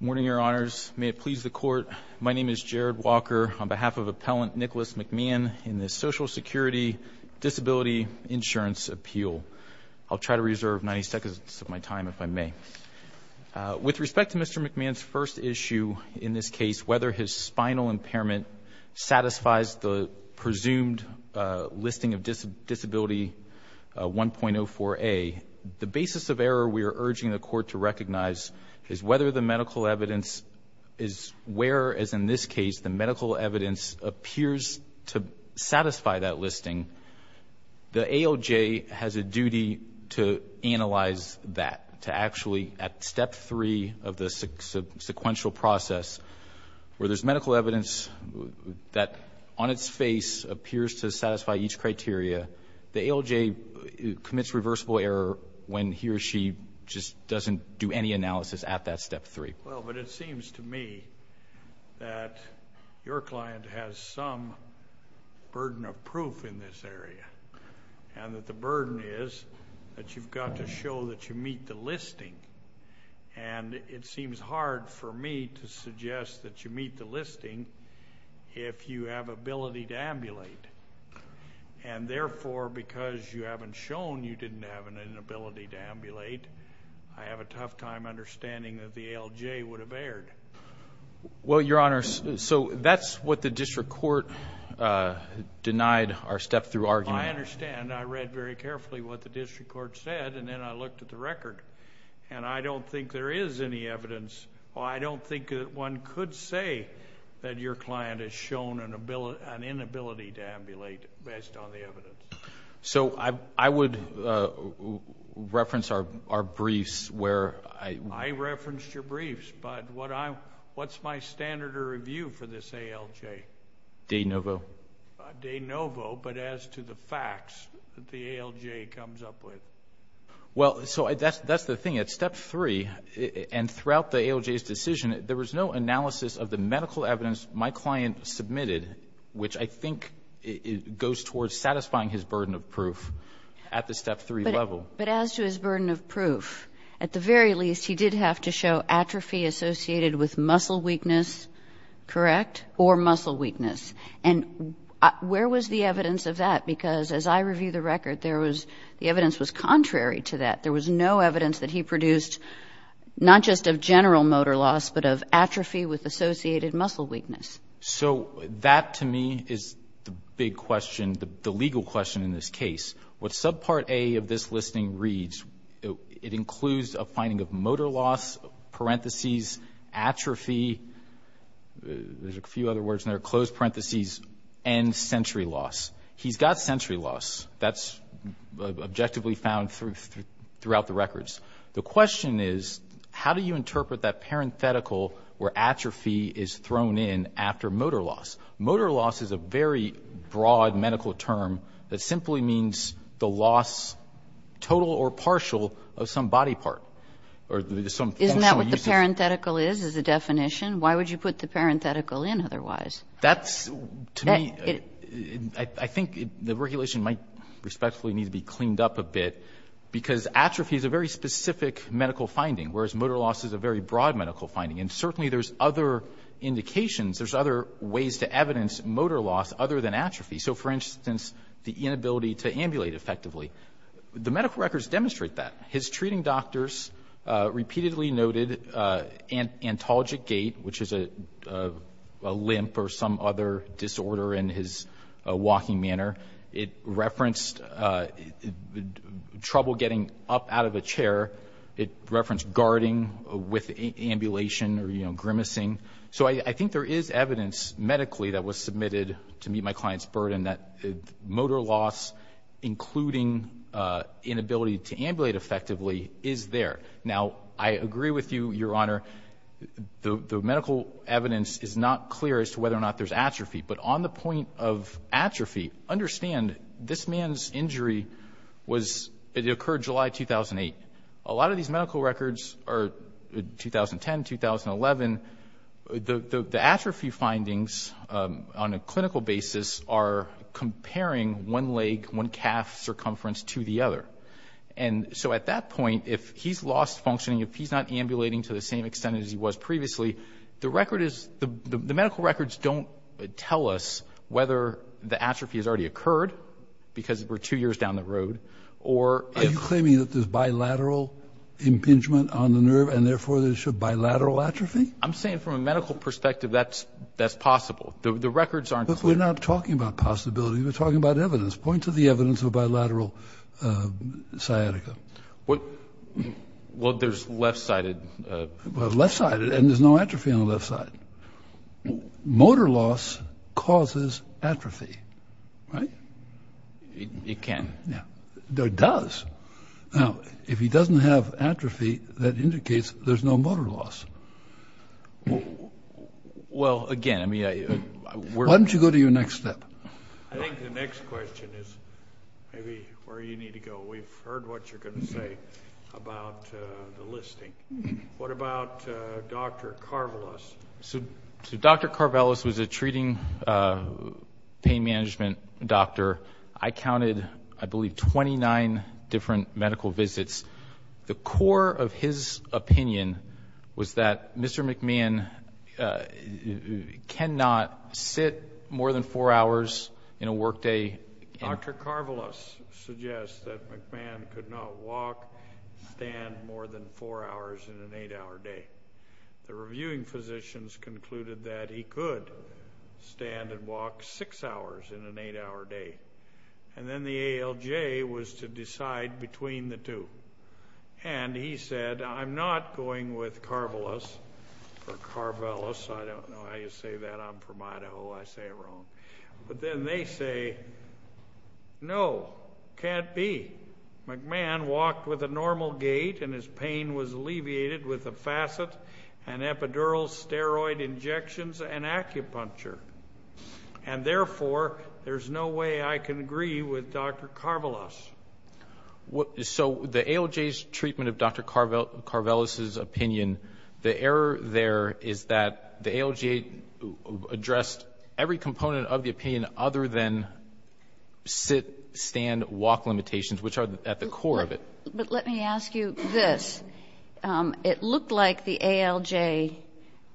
Good morning, Your Honors. May it please the Court, my name is Jared Walker on behalf of Appellant Nicholas McMahon in the Social Security Disability Insurance Appeal. I'll try to reserve 90 seconds of my time if I may. With respect to Mr. McMahon's first issue in this case, whether his spinal impairment satisfies the presumed listing of disability 1.04a, the whether the medical evidence is where, as in this case, the medical evidence appears to satisfy that listing, the ALJ has a duty to analyze that, to actually, at step three of the sequential process, where there's medical evidence that on its face appears to satisfy each criteria, the ALJ commits reversible error when he or she just doesn't do any analysis at that step three. Well, but it seems to me that your client has some burden of proof in this area, and that the burden is that you've got to show that you meet the listing, and it seems hard for me to suggest that you meet the listing if you have ability to ambulate, and therefore because you haven't shown you didn't have an inability to ambulate, I have a tough time understanding that the ALJ would have erred. Well, Your Honor, so that's what the district court denied our step-through argument. I understand. I read very carefully what the district court said, and then I looked at the record, and I don't think there is any evidence, or I don't think that one could say that your client has shown an inability to ambulate based on the evidence. I would reference our briefs where I... I referenced your briefs, but what's my standard of review for this ALJ? De novo. De novo, but as to the facts that the ALJ comes up with. Well, so that's the thing. At step three, and throughout the ALJ's decision, there was no analysis of the medical evidence my client submitted, which I think goes towards satisfying his burden of proof at the step three level. But as to his burden of proof, at the very least, he did have to show atrophy associated with muscle weakness, correct, or muscle weakness. And where was the evidence of that? Because as I review the record, there was... the evidence was contrary to that. There was no evidence that he produced, not just of general motor loss, but of atrophy with associated muscle weakness. So that, to me, is the big question, the legal question in this case. What subpart A of this listing reads, it includes a finding of motor loss, parentheses, atrophy, there's motor loss. That's objectively found throughout the records. The question is, how do you interpret that parenthetical where atrophy is thrown in after motor loss? Motor loss is a very broad medical term that simply means the loss, total or partial, of some body part or some... Isn't that what the parenthetical is, is the definition? Why would you put the parenthetical in otherwise? That's, to me, I think the regulation might respectfully need to be cleaned up a bit, because atrophy is a very specific medical finding, whereas motor loss is a very broad medical finding. And certainly there's other indications, there's other ways to evidence motor loss other than atrophy. So, for instance, the inability to ambulate effectively. The medical records demonstrate that. His treating doctors repeatedly noted antalgic gait, which is a limp or some other disorder in his walking manner. It referenced trouble getting up out of a chair. It referenced guarding with ambulation or grimacing. So I think there is evidence medically that was submitted to meet my client's burden that motor loss, including inability to ambulate effectively, is there. Now, I agree with you, Your Honor, the medical evidence is not clear as to whether or not there's atrophy. But on the point of atrophy, understand this man's injury was, it occurred July 2008. A lot of these medical records are 2010, 2011. The atrophy findings, on a clinical basis, are comparing one leg, one calf circumference to the other. And so at that point, if he's lost functioning, if he's not ambulating to the same extent as he was previously, the record is, the medical records don't tell us whether the atrophy has already occurred, because we're two years down the road, or if... Are you claiming that there's bilateral impingement on the nerve, and therefore there's bilateral atrophy? I'm saying from a medical perspective that's possible. The records aren't clear. But we're not talking about possibility. We're talking about evidence. Point to the evidence of a bilateral sciatica. Well, there's left-sided... Well, left-sided, and there's no atrophy on the left side. Motor loss causes atrophy, right? It can. Yeah. It does. Now, if he doesn't have atrophy, that indicates there's no motor loss. Well, again, I mean, I... Why don't you go to your next step? I think the next question is maybe where you need to go. We've heard what you're going to say about the listing. What about Dr. Karvelas? So, Dr. Karvelas was a treating pain management doctor. I counted, I believe, 29 different medical visits. The core of his opinion was that Mr. McMahon cannot sit more than four hours in a workday. Dr. Karvelas suggests that McMahon could not walk, stand more than four hours in an eight-hour day. The reviewing physicians concluded that he could stand and walk six hours in an eight-hour day. And then the ALJ was to decide between the two. And he said, I'm not going with Karvelas or Karvelas. I don't know how you say that. I'm from Idaho. I say it wrong. But then they say, no, can't be. McMahon walked with a normal gait and his pain was alleviated with a facet and epidural steroid injections and acupuncture. And therefore, there's no way I can agree with Dr. Karvelas. So, the ALJ's treatment of Dr. Karvelas' opinion, the error there is that the ALJ addressed every component of the opinion other than sit, stand, walk limitations, which are at the core of it. But let me ask you this. It looked like the ALJ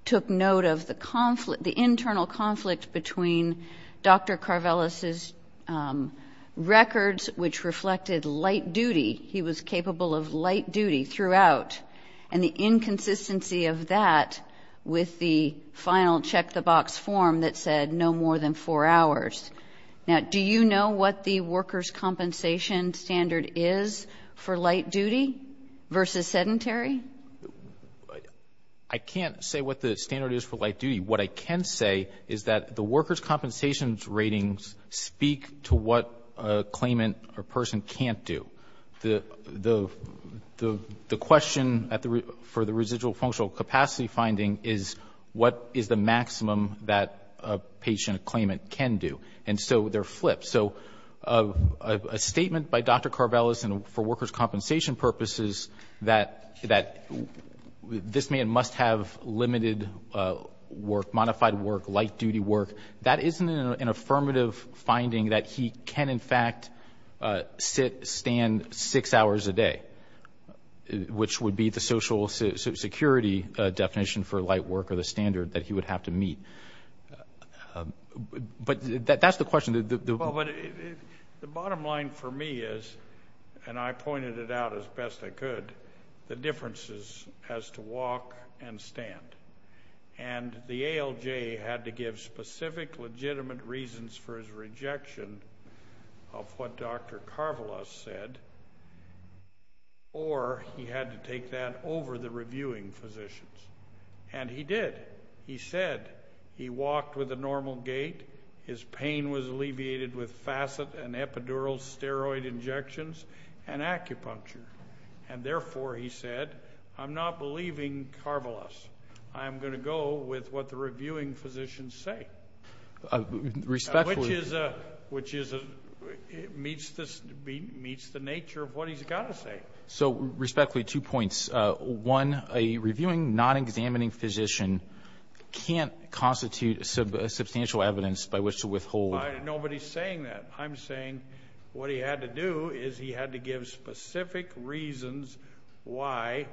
took note of the internal conflict between Dr. Karvelas' records, which reflected light duty. He was capable of light duty throughout. And the inconsistency of that with the final check-the-box form that said no more than four hours. Now, do you know what the workers' compensation standard is for light duty versus sedentary? I can't say what the standard is for light duty. What I can say is that the workers' compensation ratings speak to what a claimant or person can't do. The question for the residual functional capacity finding is what is the maximum that a patient or claimant can do. And so, they're flipped. So, a statement by Dr. Karvelas for workers' compensation purposes that this man must have limited work, modified work, light duty work, that isn't an affirmative finding that he can, in fact, sit, stand six hours a day, which would be the social security definition for light work or the standard that he would have to meet. But that's the question. Well, but the bottom line for me is, and I pointed it out as best I could, the differences as to walk and stand. And the ALJ had to give specific legitimate reasons for his rejection of what Dr. Karvelas said, or he had to take that over the reviewing physicians. And he did. He said he walked with a normal gait. His pain was alleviated with facet and epidural steroid injections and acupuncture. And therefore, he said, I'm not believing Karvelas. I'm going to go with what the reviewing physicians say. Which meets the nature of what he's got to say. So respectfully, two points. One, a reviewing, non-examining physician can't constitute substantial evidence by which to withhold. Nobody's saying that. I'm saying what he had to do is he had to give specific reasons why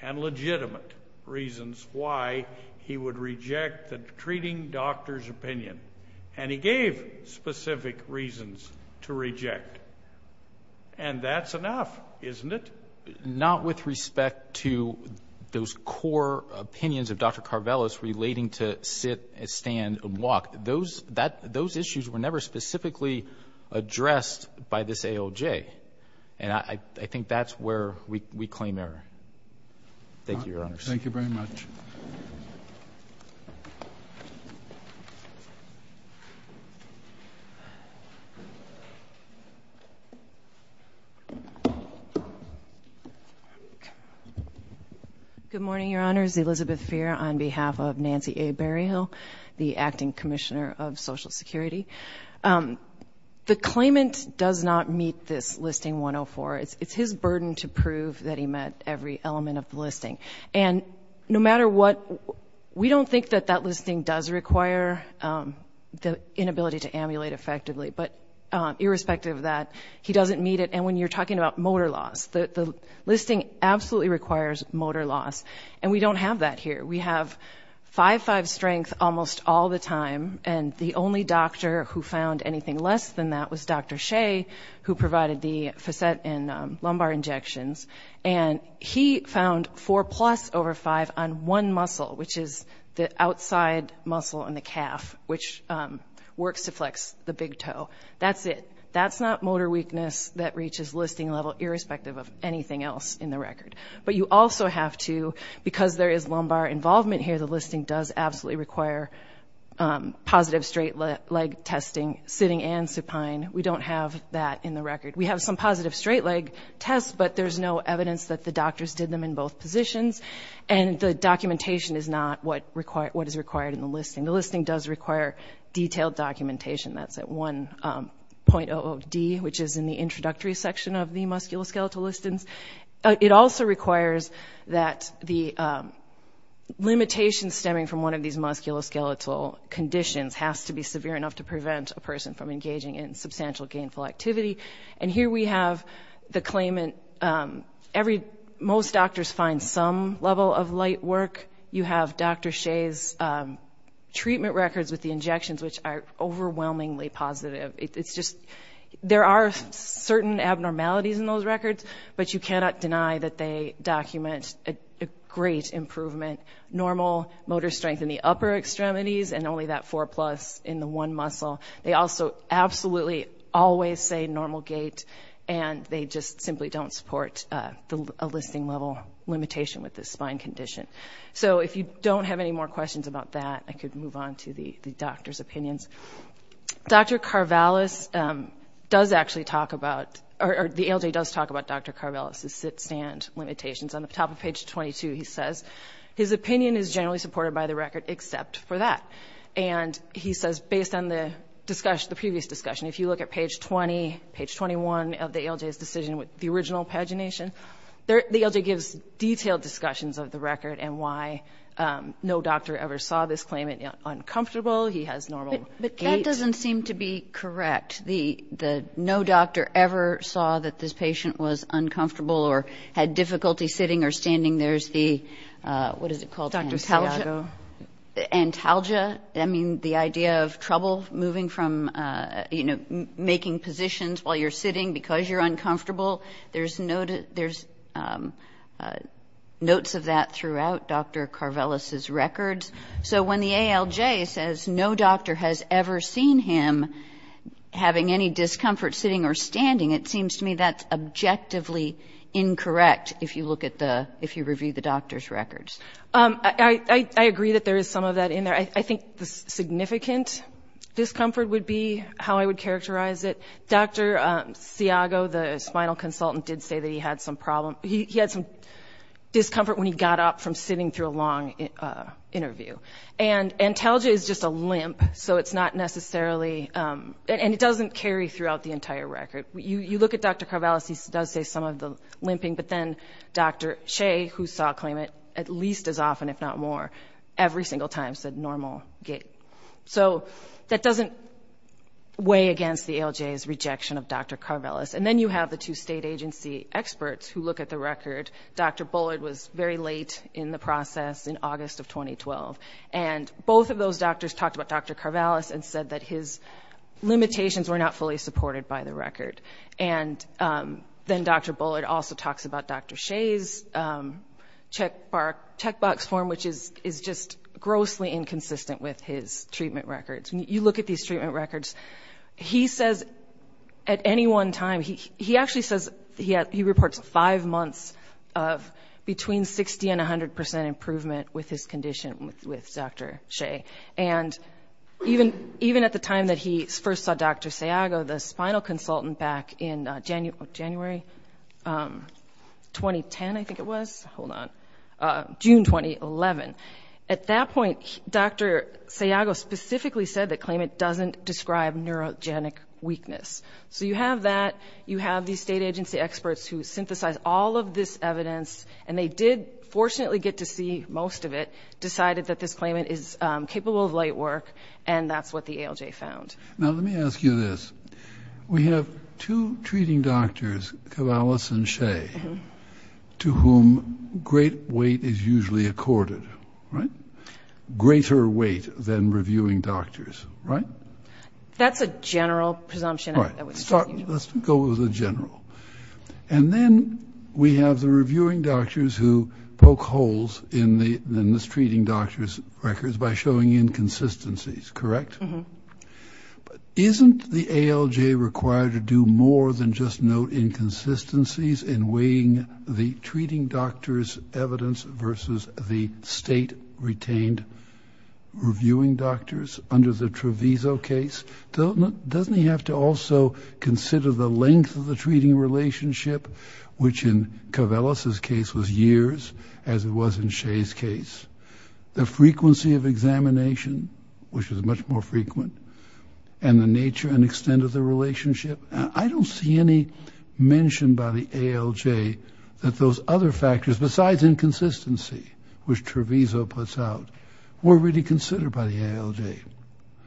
and legitimate reasons why he would reject the treating doctor's opinion. And he gave specific reasons to reject. And that's enough, isn't it? Not with respect to those core opinions of Dr. Karvelas relating to sit, stand, and walk. Those issues were never specifically addressed by this ALJ. And I think that's where we claim error. Thank you, Your Honors. Thank you very much. Good morning, Your Honors. Elizabeth Feer on behalf of Nancy A. Berryhill, the Acting Commissioner of Social Security. The claimant does not meet this listing 104. It's his burden to prove that he met every element of the listing. And no matter what, we don't think that that listing does require the inability to amulate effectively. But irrespective of that, he doesn't meet it. And when you're talking about motor loss, the listing absolutely requires motor loss. And we don't have that here. We have 5-5 strength almost all the time. And the only doctor who found anything less than that was Dr. Shea, who provided the facet and lumbar injections. And he found 4-plus over 5 on one muscle, which is the outside muscle in the calf, which works to flex the big toe. That's it. That's not motor weakness that reaches listing level irrespective of anything else in the record. But you also have to, because there is lumbar involvement here, the listing does absolutely require positive straight leg testing, sitting and supine. We don't have that in the record. We have some positive straight leg tests, but there's no evidence that the doctors did them in both positions. And the documentation is not what is required in the listing. The listing does require detailed documentation. That's at 1.00D, which is in the introductory section of the musculoskeletal listings. It also requires that the limitations stemming from one of these musculoskeletal conditions has to be severe enough to prevent a person from engaging in substantial gainful activity. And here we have the claimant, every, most doctors find some level of light work. You have Dr. Shea's treatment records with the injections, which are overwhelmingly positive. It's just, there are certain abnormalities in those records, but you cannot deny that they document a great improvement. Normal motor strength in the upper extremities and only that four plus in the one muscle. They also absolutely always say normal gait, and they just simply don't support a listing level limitation with this spine condition. So if you don't have any more questions about that, I could move on to the doctor's opinions. Dr. Carvalis does actually talk about, or the ALJ does talk about Dr. Carvalis's sit-stand limitations. On the top of page 22, he says, his opinion is generally supported by the fact. And he says, based on the discussion, the previous discussion, if you look at page 20, page 21 of the ALJ's decision with the original pagination, the ALJ gives detailed discussions of the record and why no doctor ever saw this claimant uncomfortable. He has normal gait. But that doesn't seem to be correct. The no doctor ever saw that this patient was uncomfortable or had difficulty sitting or standing. There's the, what is it called? Dr. Santiago. Antalgia. I mean, the idea of trouble moving from, you know, making positions while you're sitting because you're uncomfortable. There's notes of that throughout Dr. Carvalis's records. So when the ALJ says no doctor has ever seen him having any discomfort sitting or standing, it seems to me that's objectively incorrect if you look at the, if you review the doctor's records. I agree that there is some of that in there. I think the significant discomfort would be how I would characterize it. Dr. Santiago, the spinal consultant, did say that he had some problem. He had some discomfort when he got up from sitting through a long interview. And antalgia is just a limp, so it's not necessarily, and it doesn't carry throughout the entire record. You look at Dr. Carvalis, he does say some of the limping, but then Dr. Shea, who saw claimant at least as often, if not more, every single time said normal gait. So that doesn't weigh against the ALJ's rejection of Dr. Carvalis. And then you have the two state agency experts who look at the record. Dr. Bullard was very late in the process in August of 2012. And both of those doctors talked about Dr. Carvalis and said that his limitations were not fully supported by the record. And then Dr. Bullard also talks about Dr. Shea's checkbox form, which is just grossly inconsistent with his treatment records. You look at these treatment records, he says at any one time, he actually says he reports five months of between 60 and 100% improvement with his condition with Dr. Shea. And even at the time that he first saw Dr. Sayago, the spinal consultant, back in January 2010, I think it was, hold on, June 2011. At that point, Dr. Sayago specifically said that claimant doesn't describe neurogenic weakness. So you have that, you have these state agency experts who synthesize all of this evidence, and they did fortunately get to see most of it, decided that this claimant is capable of light work, and that's what the ALJ found. Now let me ask you this. We have two treating doctors, Carvalis and Shea, to whom great weight is usually accorded, right? Greater weight than reviewing doctors, right? That's a general presumption. All right, let's go with the general. And then we have the reviewing doctors who poke treating doctors' records by showing inconsistencies, correct? But isn't the ALJ required to do more than just note inconsistencies in weighing the treating doctor's evidence versus the state-retained reviewing doctors under the Treviso case? Doesn't he have to also consider the length of the treating relationship, which in Carvalis's case was years, as it was in Shea's case? The frequency of examination, which was much more frequent, and the nature and extent of the relationship? I don't see any mention by the ALJ that those other factors, besides inconsistency, which Treviso puts out, were really considered by the ALJ.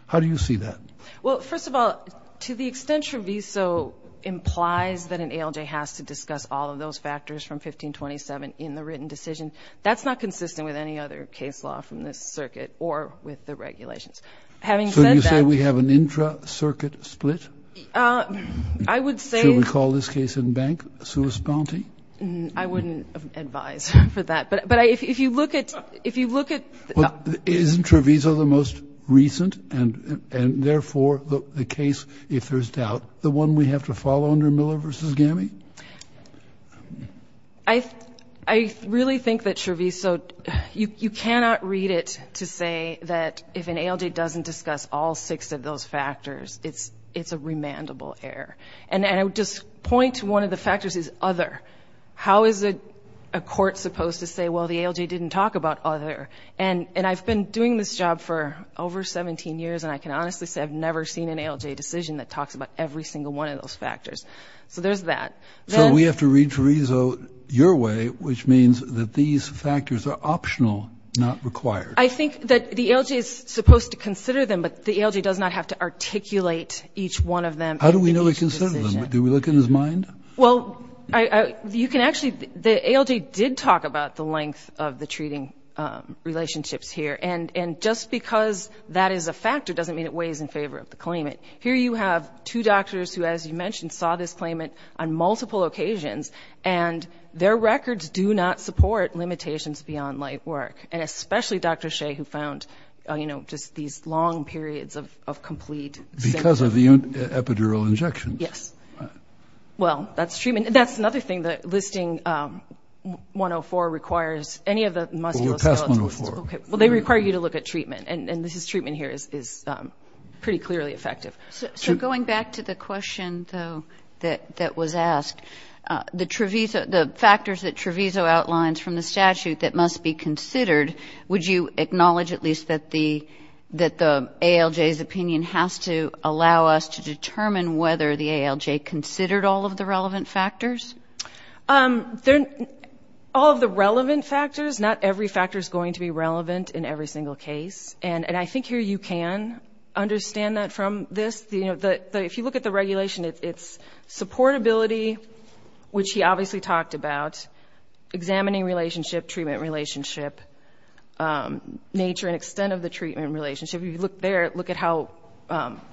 How do you see that? Well, first of all, to the extent Treviso implies that an ALJ has to discuss all of those factors from 1527 in the written decision, that's not consistent with any other case law from this circuit or with the regulations. Having said that — So you say we have an intra-circuit split? I would say — Should we call this case in bank, sua sponte? I wouldn't advise for that. But if you look at — Isn't Treviso the most recent, and therefore the case, if there's doubt, the one we have to follow under Miller v. Gammy? I really think that Treviso — you cannot read it to say that if an ALJ doesn't discuss all six of those factors, it's a remandable error. And I would just point to one of the factors is other. How is a court supposed to say, well, the ALJ didn't talk about other? And I've been doing this job for over 17 years, and I can honestly say I've never seen an ALJ decision that talks about every single one of those factors. So there's that. So we have to read Treviso your way, which means that these factors are optional, not required. I think that the ALJ is supposed to consider them, but the ALJ does not have to articulate each one of them. How do we know they consider them? Do we look in his mind? Well, you can actually — the ALJ did talk about the length of the treating relationships here, and just because that is a factor doesn't mean it weighs in favor of the claimant. Here you have two doctors who, as you mentioned, saw this claimant on multiple occasions, and their records do not support limitations beyond light work, and especially Dr. Shea, who found just these long periods of complete — Because of the epidural injections? Yes. Well, that's treatment — that's another thing that listing 104 requires. Any of the musculoskeletal — Well, we're past 104. Okay. Well, they require you to look at treatment, and this is — treatment here is pretty clearly effective. So going back to the question, though, that was asked, the factors that Treviso outlines from the statute that must be considered, would you acknowledge at least that the ALJ's opinion has to allow us to determine whether the ALJ considered all of the relevant factors? All of the relevant factors? Not every factor is going to be relevant in every single case, and I think here you can understand that from this. If you look at the regulation, it's supportability, which he obviously talked about, examining relationship, treatment relationship, nature and extent of the treatment relationship. You look there, look at how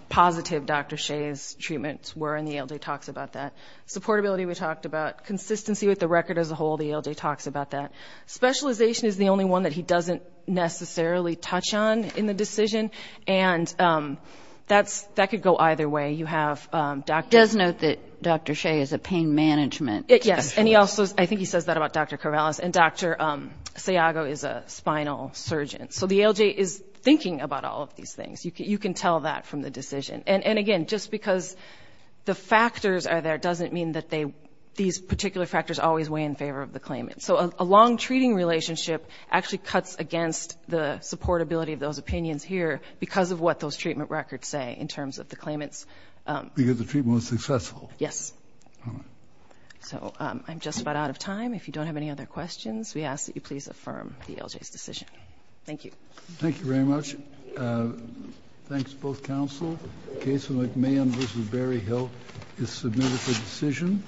positive Dr. Shea's talked about. Consistency with the record as a whole, the ALJ talks about that. Specialization is the only one that he doesn't necessarily touch on in the decision, and that's — that could go either way. You have Dr. — Does note that Dr. Shea is a pain management specialist. Yes, and he also — I think he says that about Dr. Corvallis, and Dr. Sayago is a spinal surgeon. So the ALJ is thinking about all of these things. You can tell that from the these particular factors always weigh in favor of the claimant. So a long treating relationship actually cuts against the supportability of those opinions here because of what those treatment records say in terms of the claimant's — Because the treatment was successful. Yes. So I'm just about out of time. If you don't have any other questions, we ask that you please affirm the ALJ's decision. Thank you. Thank you very much. Thanks to both counsel. The case of McMahon v. Berryhill is submitted for decision.